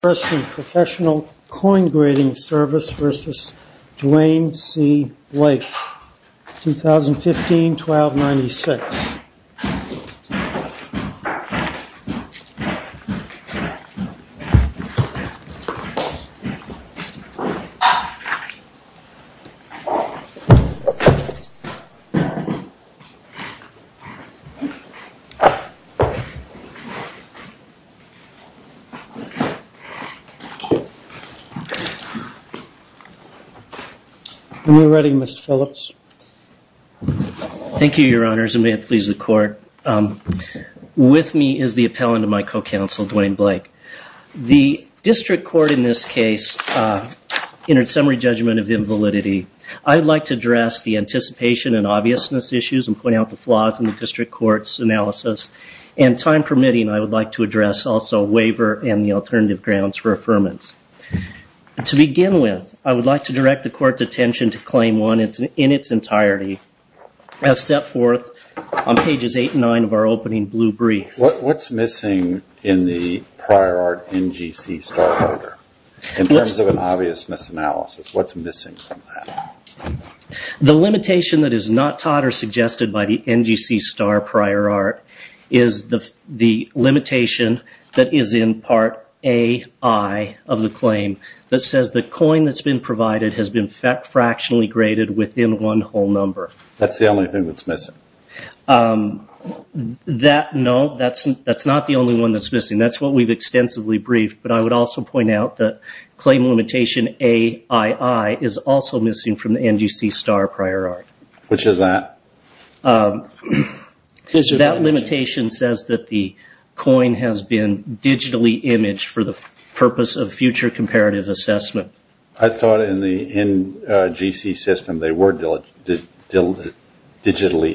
Professional Coin Grading Service v. Duane C. Blake 2015-12-96 Appellant of my co-counsel, Duane C. Blake District Court in this case entered summary judgment of invalidity. I would like to address the anticipation and obviousness issues and point out the flaws in the District Court's analysis. And time permitting, I would like to address also waiver and the alternative grounds for affirmance. To begin with, I would like to direct the Court's attention to Claim 1 in its entirety as set forth on pages 8 and 9 of our opening blue brief. What's missing in the prior art NGC star order in terms of an obviousness analysis? What's missing from that? The limitation that is not taught or suggested by the NGC star prior art is the limitation that is in Part A.I. of the claim that says the coin that's been provided has been fractionally graded within one whole number. That's the only thing that's missing? No, that's not the only one that's missing. That's what we've extensively briefed. But I would also point out that claim limitation AII is also missing from the NGC star prior art. Which is that? That limitation says that the coin has been digitally imaged for the purpose of future comparative assessment. I thought in the NGC system they were digitally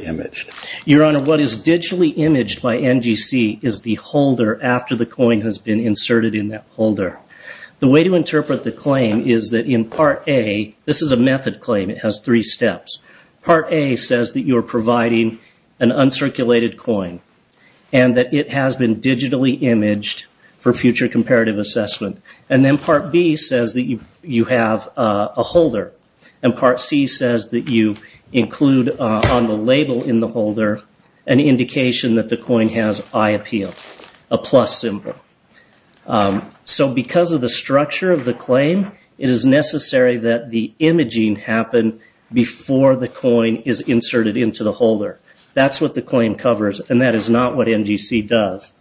imaged. Your Honor, what is digitally imaged by NGC is the holder after the coin has been inserted in that holder. The way to interpret the claim is that in Part A, this is a method claim, it has three steps. Part A says that you are providing an uncirculated coin and that it has been digitally imaged for future comparative assessment. And then Part B says that you have a holder. And Part C says that you include on the label in the holder an indication that the coin has eye appeal, a plus symbol. So because of the structure of the claim, it is necessary that the imaging happen before the coin is inserted into the holder. That's what the claim covers and that is not what NGC does.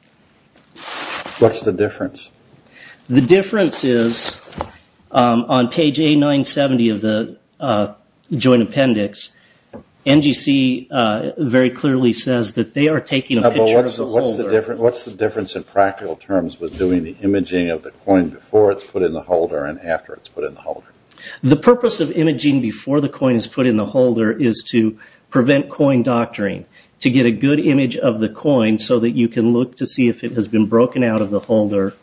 What's the difference? The difference is on page A970 of the joint appendix, NGC very clearly says that they are taking a picture of the holder. What's the difference in practical terms with doing the imaging of the coin before it's put in the holder and after it's put in the holder? The purpose of imaging before the coin is put in the holder is to prevent coin doctoring. To get a good image of the coin so that you can look to see if it has been broken out of the holder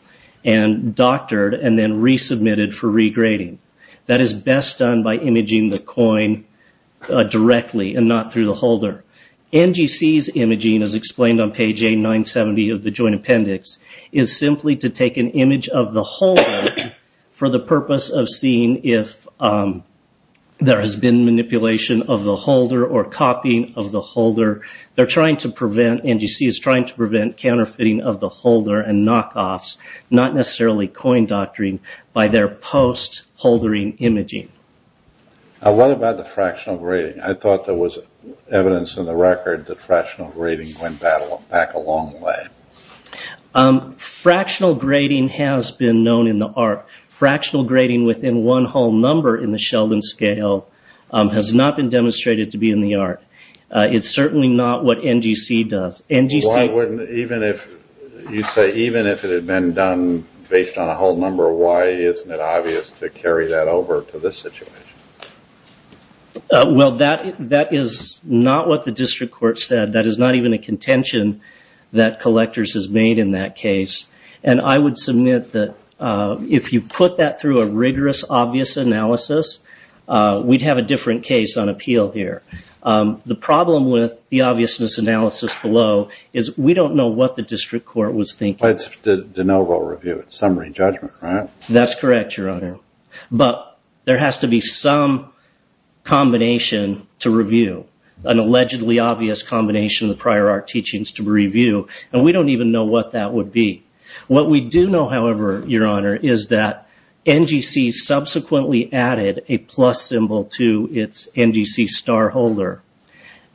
and doctored and then resubmitted for regrading. That is best done by imaging the coin directly and not through the holder. NGC's imaging, as explained on page A970 of the joint appendix, is simply to take an image of the holder for the purpose of seeing if there has been manipulation of the holder or copying of the holder. NGC is trying to prevent counterfeiting of the holder and knockoffs, not necessarily coin doctoring, by their post-holdering imaging. What about the fractional grading? I thought there was evidence in the record that fractional grading went back a long way. Fractional grading has been known in the art. Fractional grading within one whole number in the Sheldon scale has not been demonstrated to be in the art. It's certainly not what NGC does. You say even if it had been done based on a whole number, why isn't it obvious to carry that over to this situation? Well, that is not what the district court said. That is not even a contention that collectors has made in that case. I would submit that if you put that through a rigorous, obvious analysis, we'd have a different case on appeal here. The problem with the obviousness analysis below is we don't know what the district court was thinking. It's de novo review. It's summary judgment, right? That's correct, Your Honor. But there has to be some combination to review, an allegedly obvious combination of the prior art teachings to review, and we don't even know what that would be. What we do know, however, Your Honor, is that NGC subsequently added a plus symbol to its NGC star holder.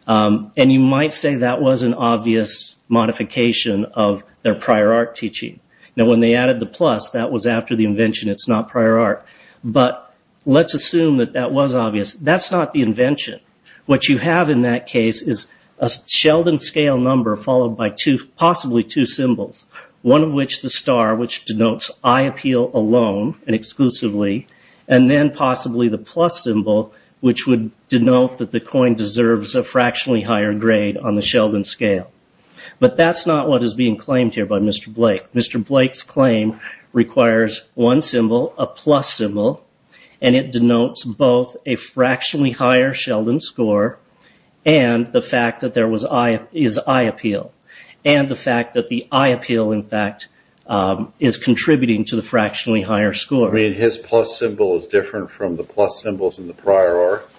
You might say that was an obvious modification of their prior art teaching. Now, when they added the plus, that was after the invention. It's not prior art. But let's assume that that was obvious. That's not the invention. What you have in that case is a Sheldon scale number followed by possibly two symbols, one of which the star, which denotes eye appeal alone and exclusively, and then possibly the plus symbol, which would denote that the coin deserves a fractionally higher grade on the Sheldon scale. But that's not what is being claimed here by Mr. Blake. Mr. Blake's claim requires one symbol, a plus symbol, and it denotes both a fractionally higher Sheldon score and the fact that there is eye appeal, and the fact that the eye appeal, in fact, is contributing to the fractionally higher score. I mean, his plus symbol is different from the plus symbols in the prior art?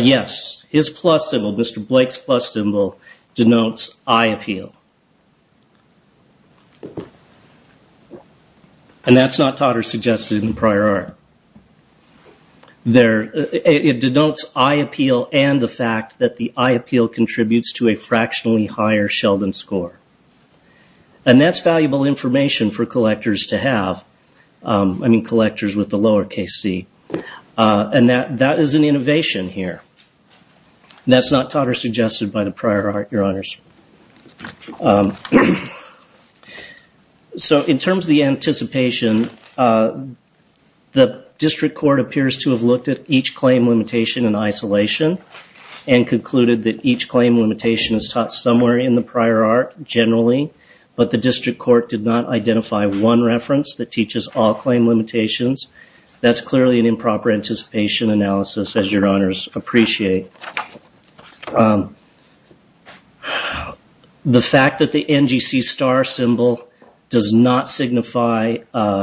Yes. His plus symbol, Mr. Blake's plus symbol, denotes eye appeal. And that's not taught or suggested in the prior art. It denotes eye appeal and the fact that the eye appeal contributes to a fractionally higher Sheldon score. And that's valuable information for collectors to have. I mean, collectors with the lower case C. And that is an innovation here. That's not taught or suggested by the prior art, Your Honors. So in terms of the anticipation, the district court appears to have looked at each claim limitation in isolation and concluded that each claim limitation is taught somewhere in the prior art generally, but the district court did not identify one reference that teaches all claim limitations. That's clearly an improper anticipation analysis, as Your Honors appreciate. The fact that the NGC star symbol does not signify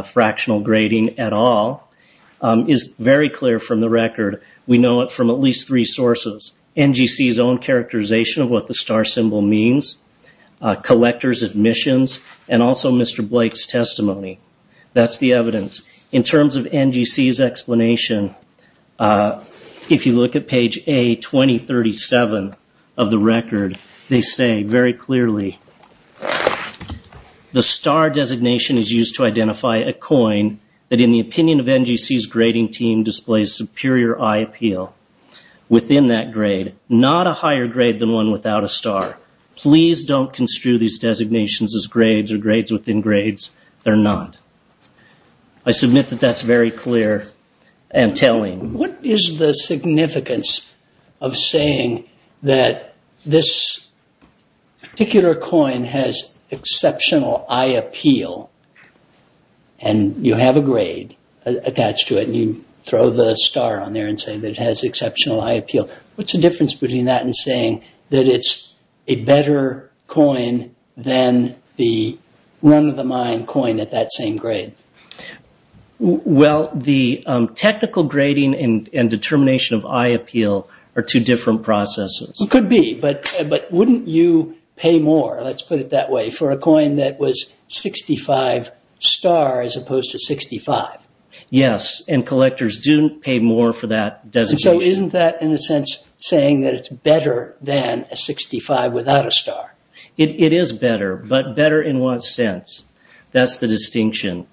fractional grading at all is very clear from the record. We know it from at least three sources, NGC's own characterization of what the star symbol means, collectors' admissions, and also Mr. Blake's testimony. That's the evidence. In terms of NGC's explanation, if you look at page A2037 of the record, they say very clearly the star designation is used to identify a coin that, in the opinion of NGC's grading team, displays superior eye appeal within that grade, not a higher grade than one without a star. Please don't construe these designations as grades or grades within grades. They're not. I submit that that's very clear and telling. What is the significance of saying that this particular coin has exceptional eye appeal and you have a grade attached to it and you throw the star on there and say that it has exceptional eye appeal? What's the difference between that and saying that it's a better coin than the run-of-the-mind coin at that same grade? Well, the technical grading and determination of eye appeal are two different processes. It could be, but wouldn't you pay more, let's put it that way, for a coin that was 65 star as opposed to 65? Yes, and collectors do pay more for that designation. So isn't that, in a sense, saying that it's better than a 65 without a star? It is better, but better in what sense? That's the distinction.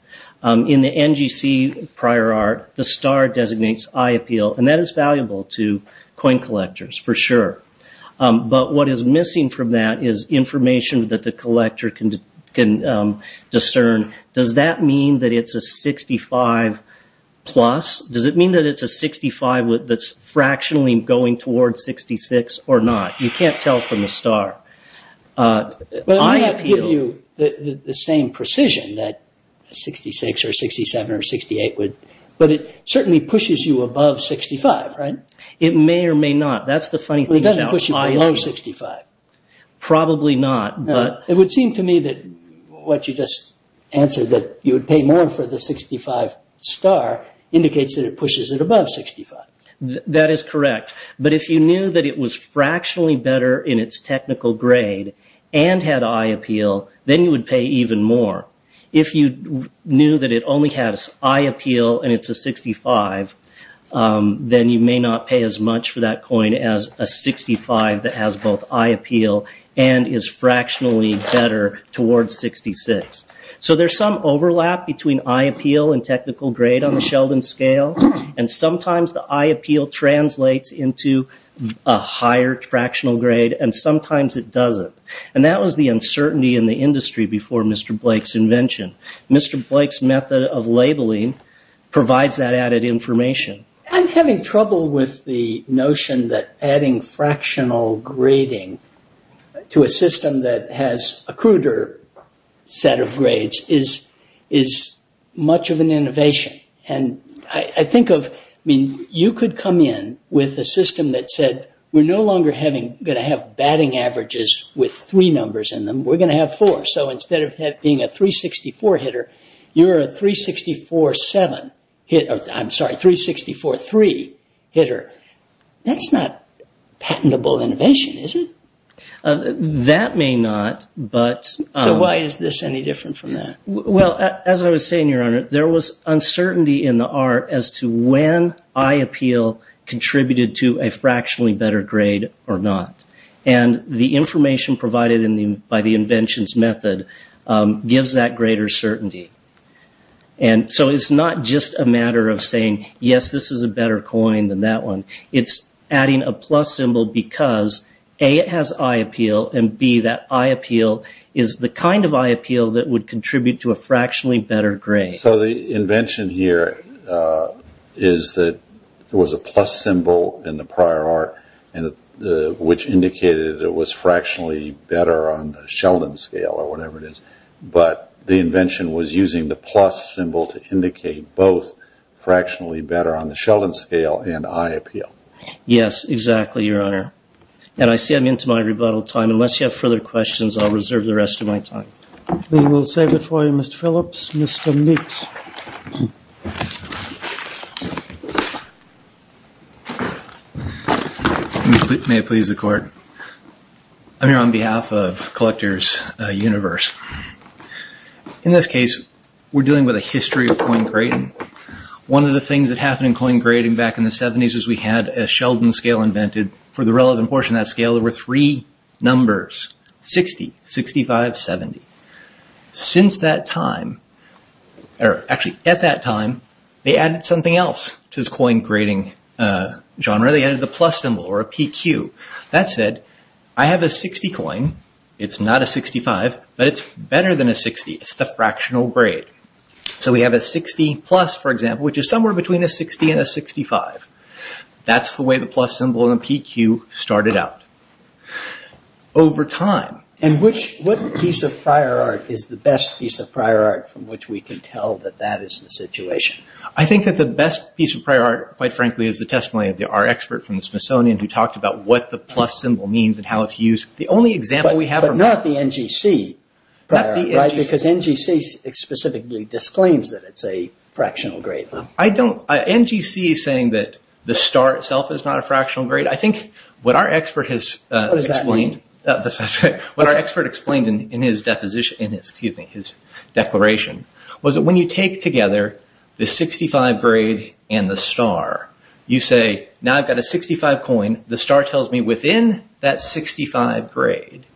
In the NGC prior art, the star designates eye appeal, and that is valuable to coin collectors, for sure. But what is missing from that is information that the collector can discern. Does that mean that it's a 65 plus? Does it mean that it's a 65 that's fractionally going towards 66 or not? You can't tell from the star. Well, it might not give you the same precision that a 66 or a 67 or a 68 would, but it certainly pushes you above 65, right? It may or may not. That's the funny thing about eye appeal. It doesn't push you below 65? Probably not. It would seem to me that what you just answered, that you would pay more for the 65 star, indicates that it pushes it above 65. That is correct. But if you knew that it was fractionally better in its technical grade and had eye appeal, then you would pay even more. If you knew that it only had eye appeal and it's a 65, then you may not pay as much for that coin as a 65 that has both eye appeal and is fractionally better towards 66. So there's some overlap between eye appeal and technical grade on the Sheldon scale, and sometimes the eye appeal translates into a higher fractional grade, and sometimes it doesn't. And that was the uncertainty in the industry before Mr. Blake's invention. Mr. Blake's method of labeling provides that added information. I'm having trouble with the notion that adding fractional grading to a system that has a cruder set of grades is much of an innovation. You could come in with a system that said, we're no longer going to have batting averages with three numbers in them. We're going to have four. So instead of being a 364 hitter, you're a 364-7 hitter. I'm sorry, 364-3 hitter. That's not patentable innovation, is it? That may not, but... So why is this any different from that? Well, as I was saying, Your Honor, there was uncertainty in the art as to when eye appeal contributed to a fractionally better grade or not. And the information provided by the invention's method gives that greater certainty. And so it's not just a matter of saying, yes, this is a better coin than that one. It's adding a plus symbol because, A, it has eye appeal, and, B, that eye appeal is the kind of eye appeal that would contribute to a fractionally better grade. So the invention here is that there was a plus symbol in the prior art, which indicated it was fractionally better on the Sheldon scale or whatever it is. But the invention was using the plus symbol to indicate both fractionally better on the Sheldon scale and eye appeal. Yes, exactly, Your Honor. And I see I'm into my rebuttal time. Unless you have further questions, I'll reserve the rest of my time. Then we'll save it for you, Mr. Phillips. Mr. Meeks. May it please the Court. I'm here on behalf of Collectors Universe. In this case, we're dealing with a history of coin grading. One of the things that happened in coin grading back in the 70s was we had a Sheldon scale invented. For the relevant portion of that scale, there were three numbers, 60, 65, 70. Since that time, or actually at that time, they added something else to this coin grading genre. Now they added the plus symbol or a PQ. That said, I have a 60 coin. It's not a 65, but it's better than a 60. It's the fractional grade. So we have a 60 plus, for example, which is somewhere between a 60 and a 65. That's the way the plus symbol and the PQ started out over time. And what piece of prior art is the best piece of prior art from which we can tell that that is the situation? I think that the best piece of prior art, quite frankly, is the testimony of our expert from the Smithsonian who talked about what the plus symbol means and how it's used. But not the NGC. Because NGC specifically disclaims that it's a fractional grade. NGC is saying that the star itself is not a fractional grade. What our expert explained in his declaration was that when you take together the 65 grade and the star, you say, now I've got a 65 coin. The star tells me within that 65 grade,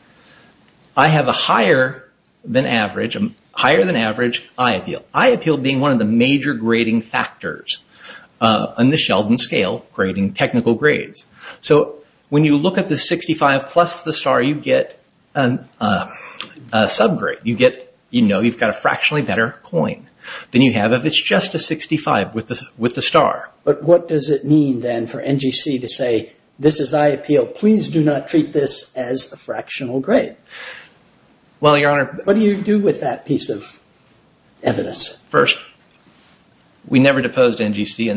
I have a higher than average eye appeal. Eye appeal being one of the major grading factors on the Sheldon scale, grading technical grades. So when you look at the 65 plus the star, you get a subgrade. You know you've got a fractionally better coin than you have if it's just a 65 with the star. But what does it mean then for NGC to say, this is eye appeal, please do not treat this as a fractional grade? What do you do with that piece of evidence? First, we never deposed NGC.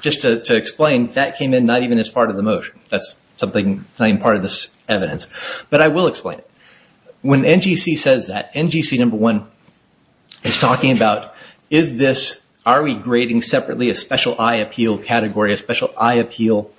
Just to explain, that came in not even as part of the motion. That's not even part of this evidence. But I will explain it. When NGC says that, NGC number one is talking about, are we grading separately a special eye appeal category, a special eye appeal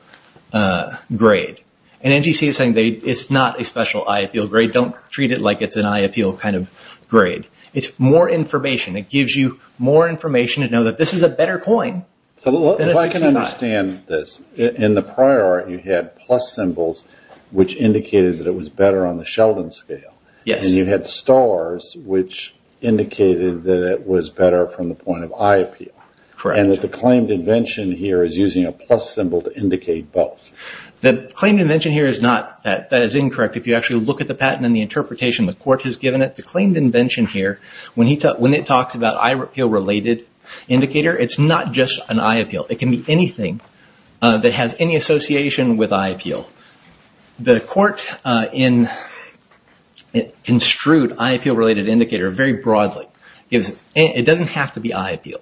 grade? And NGC is saying it's not a special eye appeal grade. Don't treat it like it's an eye appeal kind of grade. It's more information. It gives you more information to know that this is a better coin than a 65. So if I can understand this, in the prior art, you had plus symbols, which indicated that it was better on the Sheldon scale. And you had stars, which indicated that it was better from the point of eye appeal. And that the claimed invention here is using a plus symbol to indicate both. The claimed invention here is not that. That is incorrect. If you actually look at the patent and the interpretation the court has given it, the claimed invention here, when it talks about eye appeal-related indicator, it's not just an eye appeal. It can be anything that has any association with eye appeal. The court in strut eye appeal-related indicator very broadly, it doesn't have to be eye appeal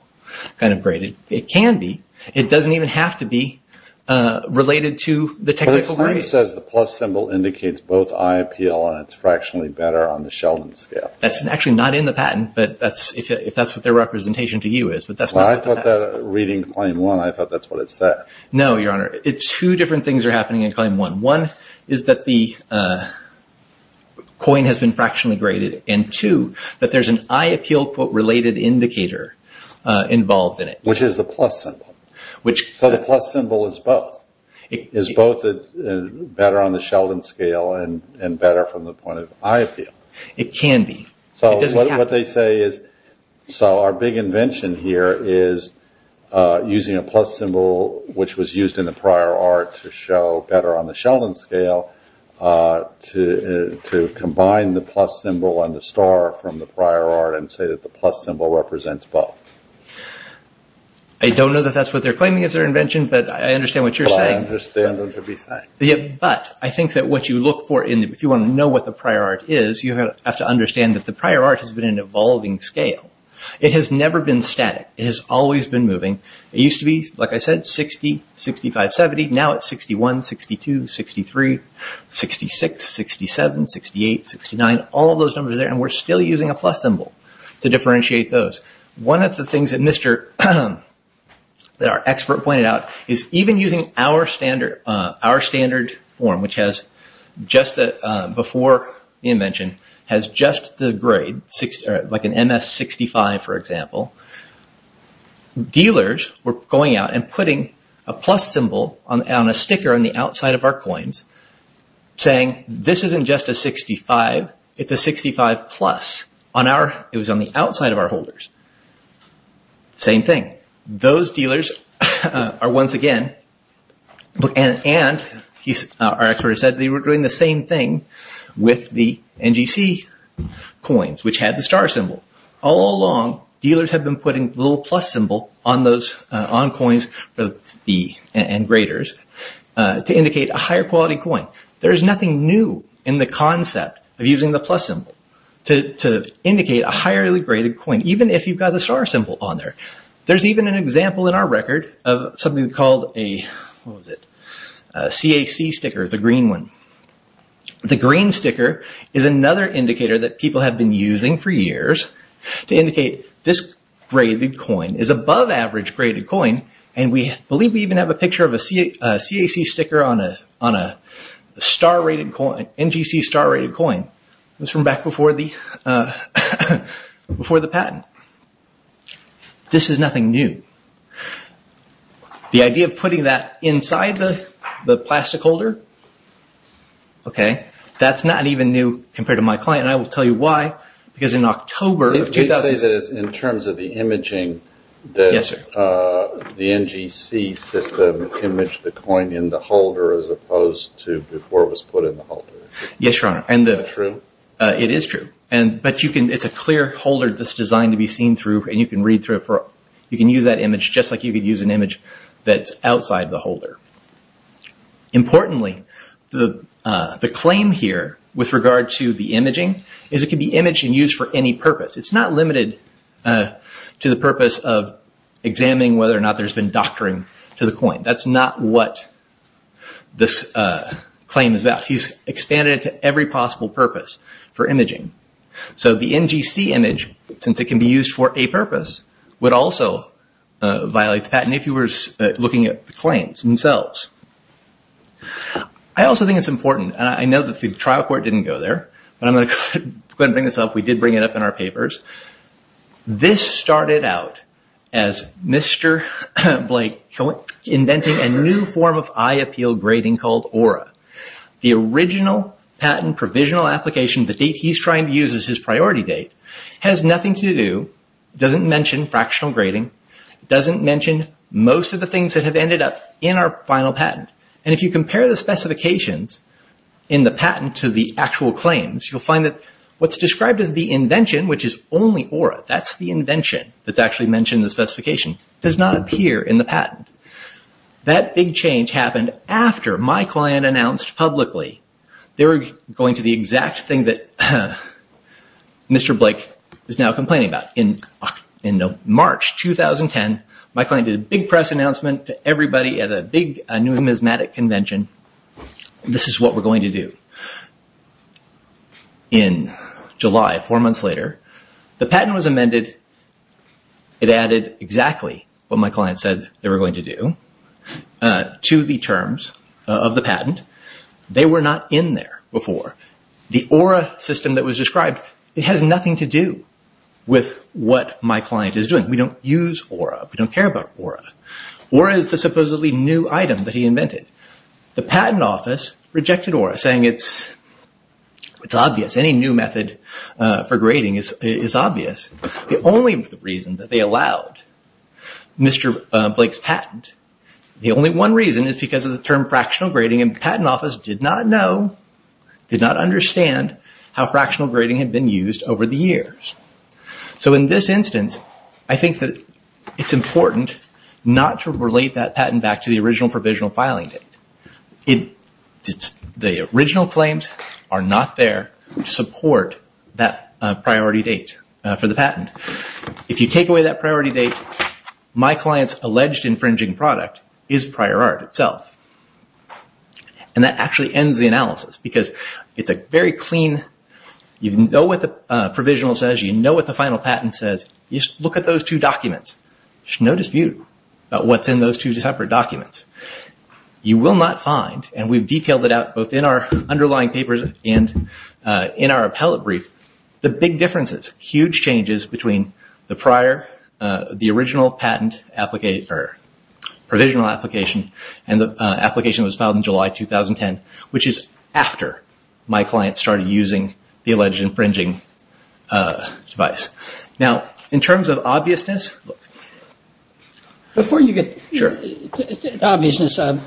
kind of graded. It can be. It doesn't even have to be related to the technical grade. The claim says the plus symbol indicates both eye appeal and it's fractionally better on the Sheldon scale. That's actually not in the patent, if that's what their representation to you is. I thought that reading claim one, I thought that's what it said. No, Your Honor. Two different things are happening in claim one. One is that the coin has been fractionally graded. And two, that there's an eye appeal-related indicator involved in it. Which is the plus symbol. So the plus symbol is both. Is both better on the Sheldon scale and better from the point of eye appeal. It can be. What they say is, so our big invention here is using a plus symbol, which was used in the prior art to show better on the Sheldon scale, to combine the plus symbol and the star from the prior art and say that the plus symbol represents both. I don't know that that's what they're claiming as their invention, but I understand what you're saying. I understand what you're saying. But I think that what you look for, if you want to know what the prior art is, you have to understand that the prior art has been an evolving scale. It has never been static. It has always been moving. It used to be, like I said, 60, 65, 70. Now it's 61, 62, 63, 66, 67, 68, 69. All of those numbers are there, and we're still using a plus symbol to differentiate those. One of the things that our expert pointed out is even using our standard form, which before the invention has just the grade, like an MS65, for example, dealers were going out and putting a plus symbol on a sticker on the outside of our coins saying this isn't just a 65, it's a 65 plus. It was on the outside of our holders. Same thing. Those dealers are once again, and our expert has said, they were doing the same thing with the NGC coins, which had the star symbol. All along, dealers have been putting the little plus symbol on coins and graders to indicate a higher quality coin. There is nothing new in the concept of using the plus symbol to indicate a highly graded coin, even if you've got the star symbol on there. There's even an example in our record of something called a CAC sticker, the green one. The green sticker is another indicator that people have been using for years to indicate this graded coin is above average graded coin, and we believe we even have a picture of a CAC sticker on an NGC star rated coin. This is from back before the patent. This is nothing new. The idea of putting that inside the plastic holder, that's not even new compared to my client, and I will tell you why, because in October of 2006- In terms of the imaging, the NGC system imaged the coin in the holder as opposed to before it was put in the holder. Yes, Your Honor. Is that true? It is true, but it's a clear holder that's designed to be seen through and you can read through it. You can use that image just like you could use an image that's outside the holder. Importantly, the claim here with regard to the imaging is it can be imaged and used for any purpose. It's not limited to the purpose of examining whether or not there's been doctoring to the coin. That's not what this claim is about. He's expanded it to every possible purpose for imaging. The NGC image, since it can be used for a purpose, would also violate the patent if you were looking at the claims themselves. I also think it's important, and I know that the trial court didn't go there, but I'm going to go ahead and bring this up. We did bring it up in our papers. This started out as Mr. Blake inventing a new form of eye appeal grading called Aura. The original patent provisional application, the date he's trying to use as his priority date, has nothing to do, doesn't mention fractional grading, doesn't mention most of the things that have ended up in our final patent. If you compare the specifications in the patent to the actual claims, you'll find that what's described as the invention, which is only Aura, that's the invention that's actually mentioned in the specification, does not appear in the patent. That big change happened after my client announced publicly they were going to the exact thing that Mr. Blake is now complaining about. In March 2010, my client did a big press announcement to everybody at a big numismatic convention, this is what we're going to do. In July, four months later, the patent was amended. It added exactly what my client said they were going to do to the terms of the patent. They were not in there before. The Aura system that was described, it has nothing to do with what my client is doing. We don't use Aura. We don't care about Aura. Aura is the supposedly new item that he invented. The patent office rejected Aura, saying it's obvious, any new method for grading is obvious. The only reason that they allowed Mr. Blake's patent, the only one reason is because of the term fractional grading, and the patent office did not know, did not understand how fractional grading had been used over the years. In this instance, I think that it's important not to relate that patent back to the original provisional filing date. The original claims are not there to support that priority date for the patent. If you take away that priority date, my client's alleged infringing product is prior art itself. That actually ends the analysis because it's a very clean, you know what the provisional says, you know what the final patent says, you just look at those two documents. There's no dispute about what's in those two separate documents. You will not find, and we've detailed it out both in our underlying papers and in our appellate brief, the big differences, huge changes between the prior, the original patent provisional application and the application that was filed in July 2010, which is after my client started using the alleged infringing device. Now, in terms of obviousness... Yes, Your Honor. I believe the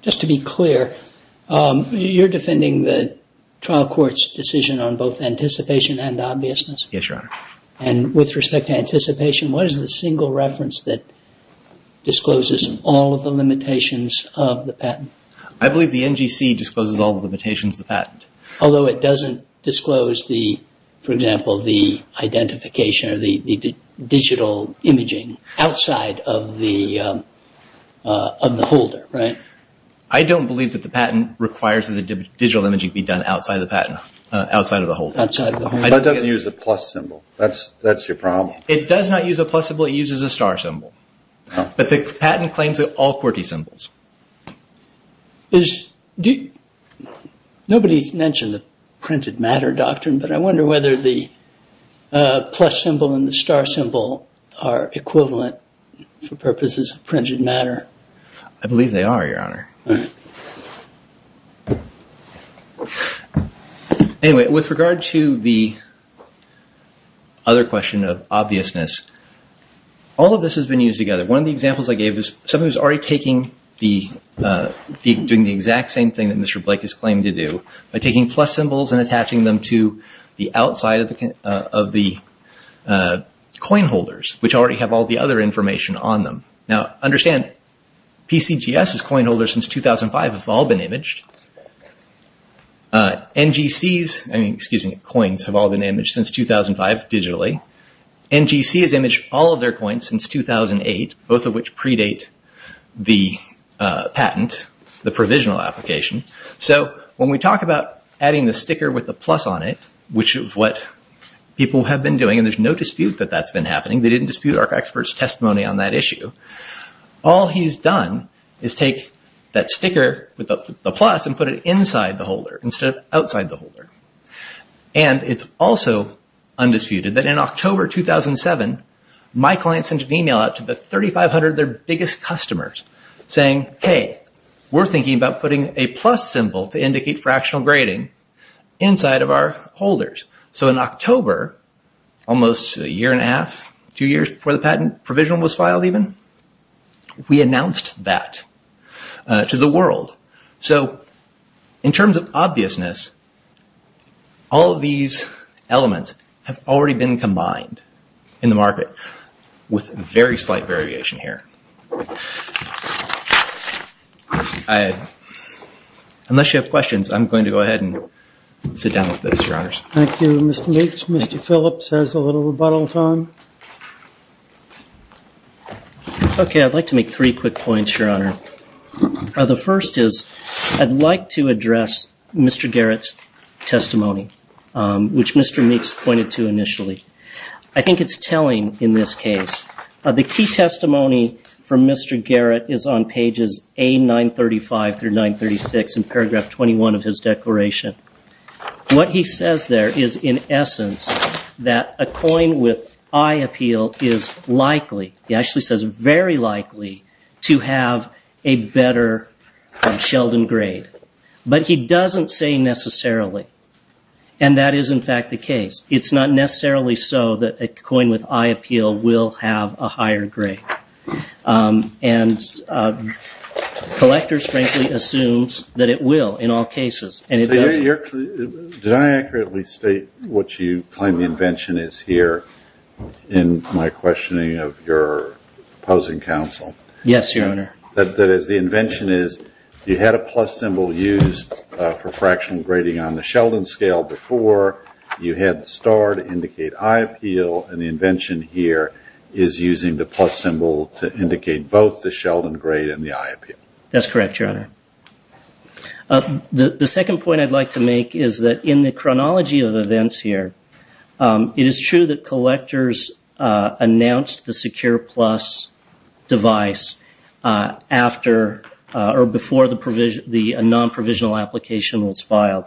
NGC discloses all the limitations of the patent. Although it doesn't disclose, for example, the identification or the digital imaging outside of the holder, right? I don't believe that the patent requires that the digital imaging be done outside of the holder. It doesn't use the plus symbol. That's your problem. It does not use a plus symbol, it uses a star symbol. But the patent claims all 40 symbols. Nobody's mentioned the printed matter doctrine, but I wonder whether the plus symbol and the star symbol are equivalent for purposes of printed matter. I believe they are, Your Honor. Anyway, with regard to the other question of obviousness, all of this has been used together. One of the examples I gave is someone who's already doing the exact same thing that Mr. Blake is claiming to do by taking plus symbols and attaching them to the outside of the coin holders, which already have all the other information on them. Now, understand PCGS' coin holders since 2005 have all been imaged. NGC's coins have all been imaged since 2005 digitally. NGC has imaged all of their coins since 2008, both of which predate the patent, the provisional application. So when we talk about adding the sticker with the plus on it, which is what people have been doing, and there's no dispute that that's been happening. They didn't dispute our expert's testimony on that issue. All he's done is take that sticker with the plus and put it inside the holder instead of outside the holder. And it's also undisputed that in October 2007, my client sent an email out to the 3,500, their biggest customers, saying, hey, we're thinking about putting a plus symbol to indicate fractional grading inside of our holders. So in October, almost a year and a half, two years before the patent provisional was filed even, we announced that to the world. So in terms of obviousness, all of these elements have already been combined in the market with very slight variation here. Unless you have questions, I'm going to go ahead and sit down with this, Your Honors. Thank you, Mr. Meeks. Mr. Phillips has a little rebuttal time. Okay, I'd like to make three quick points, Your Honor. The first is I'd like to address Mr. Garrett's testimony, which Mr. Meeks pointed to initially. I think it's telling in this case. The key testimony from Mr. Garrett is on pages A935 through 936 in paragraph 21 of his declaration. What he says there is in essence that a coin with eye appeal is likely, he actually says very likely, to have a better Sheldon grade. But he doesn't say necessarily. And that is in fact the case. It's not necessarily so that a coin with eye appeal will have a higher grade. And collectors frankly assumes that it will in all cases. Did I accurately state what you claim the invention is here in my questioning of your opposing counsel? Yes, Your Honor. That is the invention is you had a plus symbol used for fractional grading on the Sheldon scale before. You had the star to indicate eye appeal. And the invention here is using the plus symbol to indicate both the Sheldon grade and the eye appeal. That's correct, Your Honor. The second point I'd like to make is that in the chronology of events here, it is true that collectors announced the SecurePlus device before the non-provisional application was filed.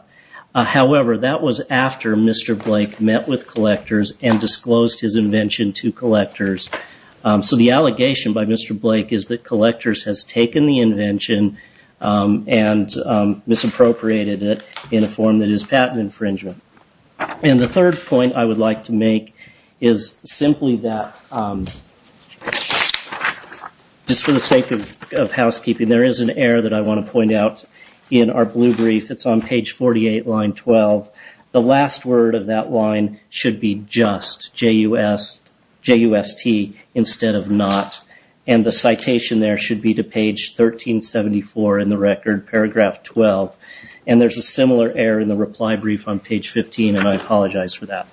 However, that was after Mr. Blake met with collectors and disclosed his invention to collectors. So the allegation by Mr. Blake is that collectors has taken the invention and misappropriated it in a form that is patent infringement. And the third point I would like to make is simply that just for the sake of housekeeping, there is an error that I want to point out in our blue brief. It's on page 48, line 12. The last word of that line should be just, J-U-S-T, instead of not. And the citation there should be to page 1374 in the record, paragraph 12. And there's a similar error in the reply brief on page 15, and I apologize for that.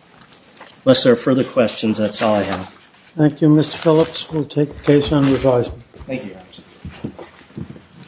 Unless there are further questions, that's all I have. Thank you, Mr. Phillips. We'll take the case under advisement. Thank you, Your Honor.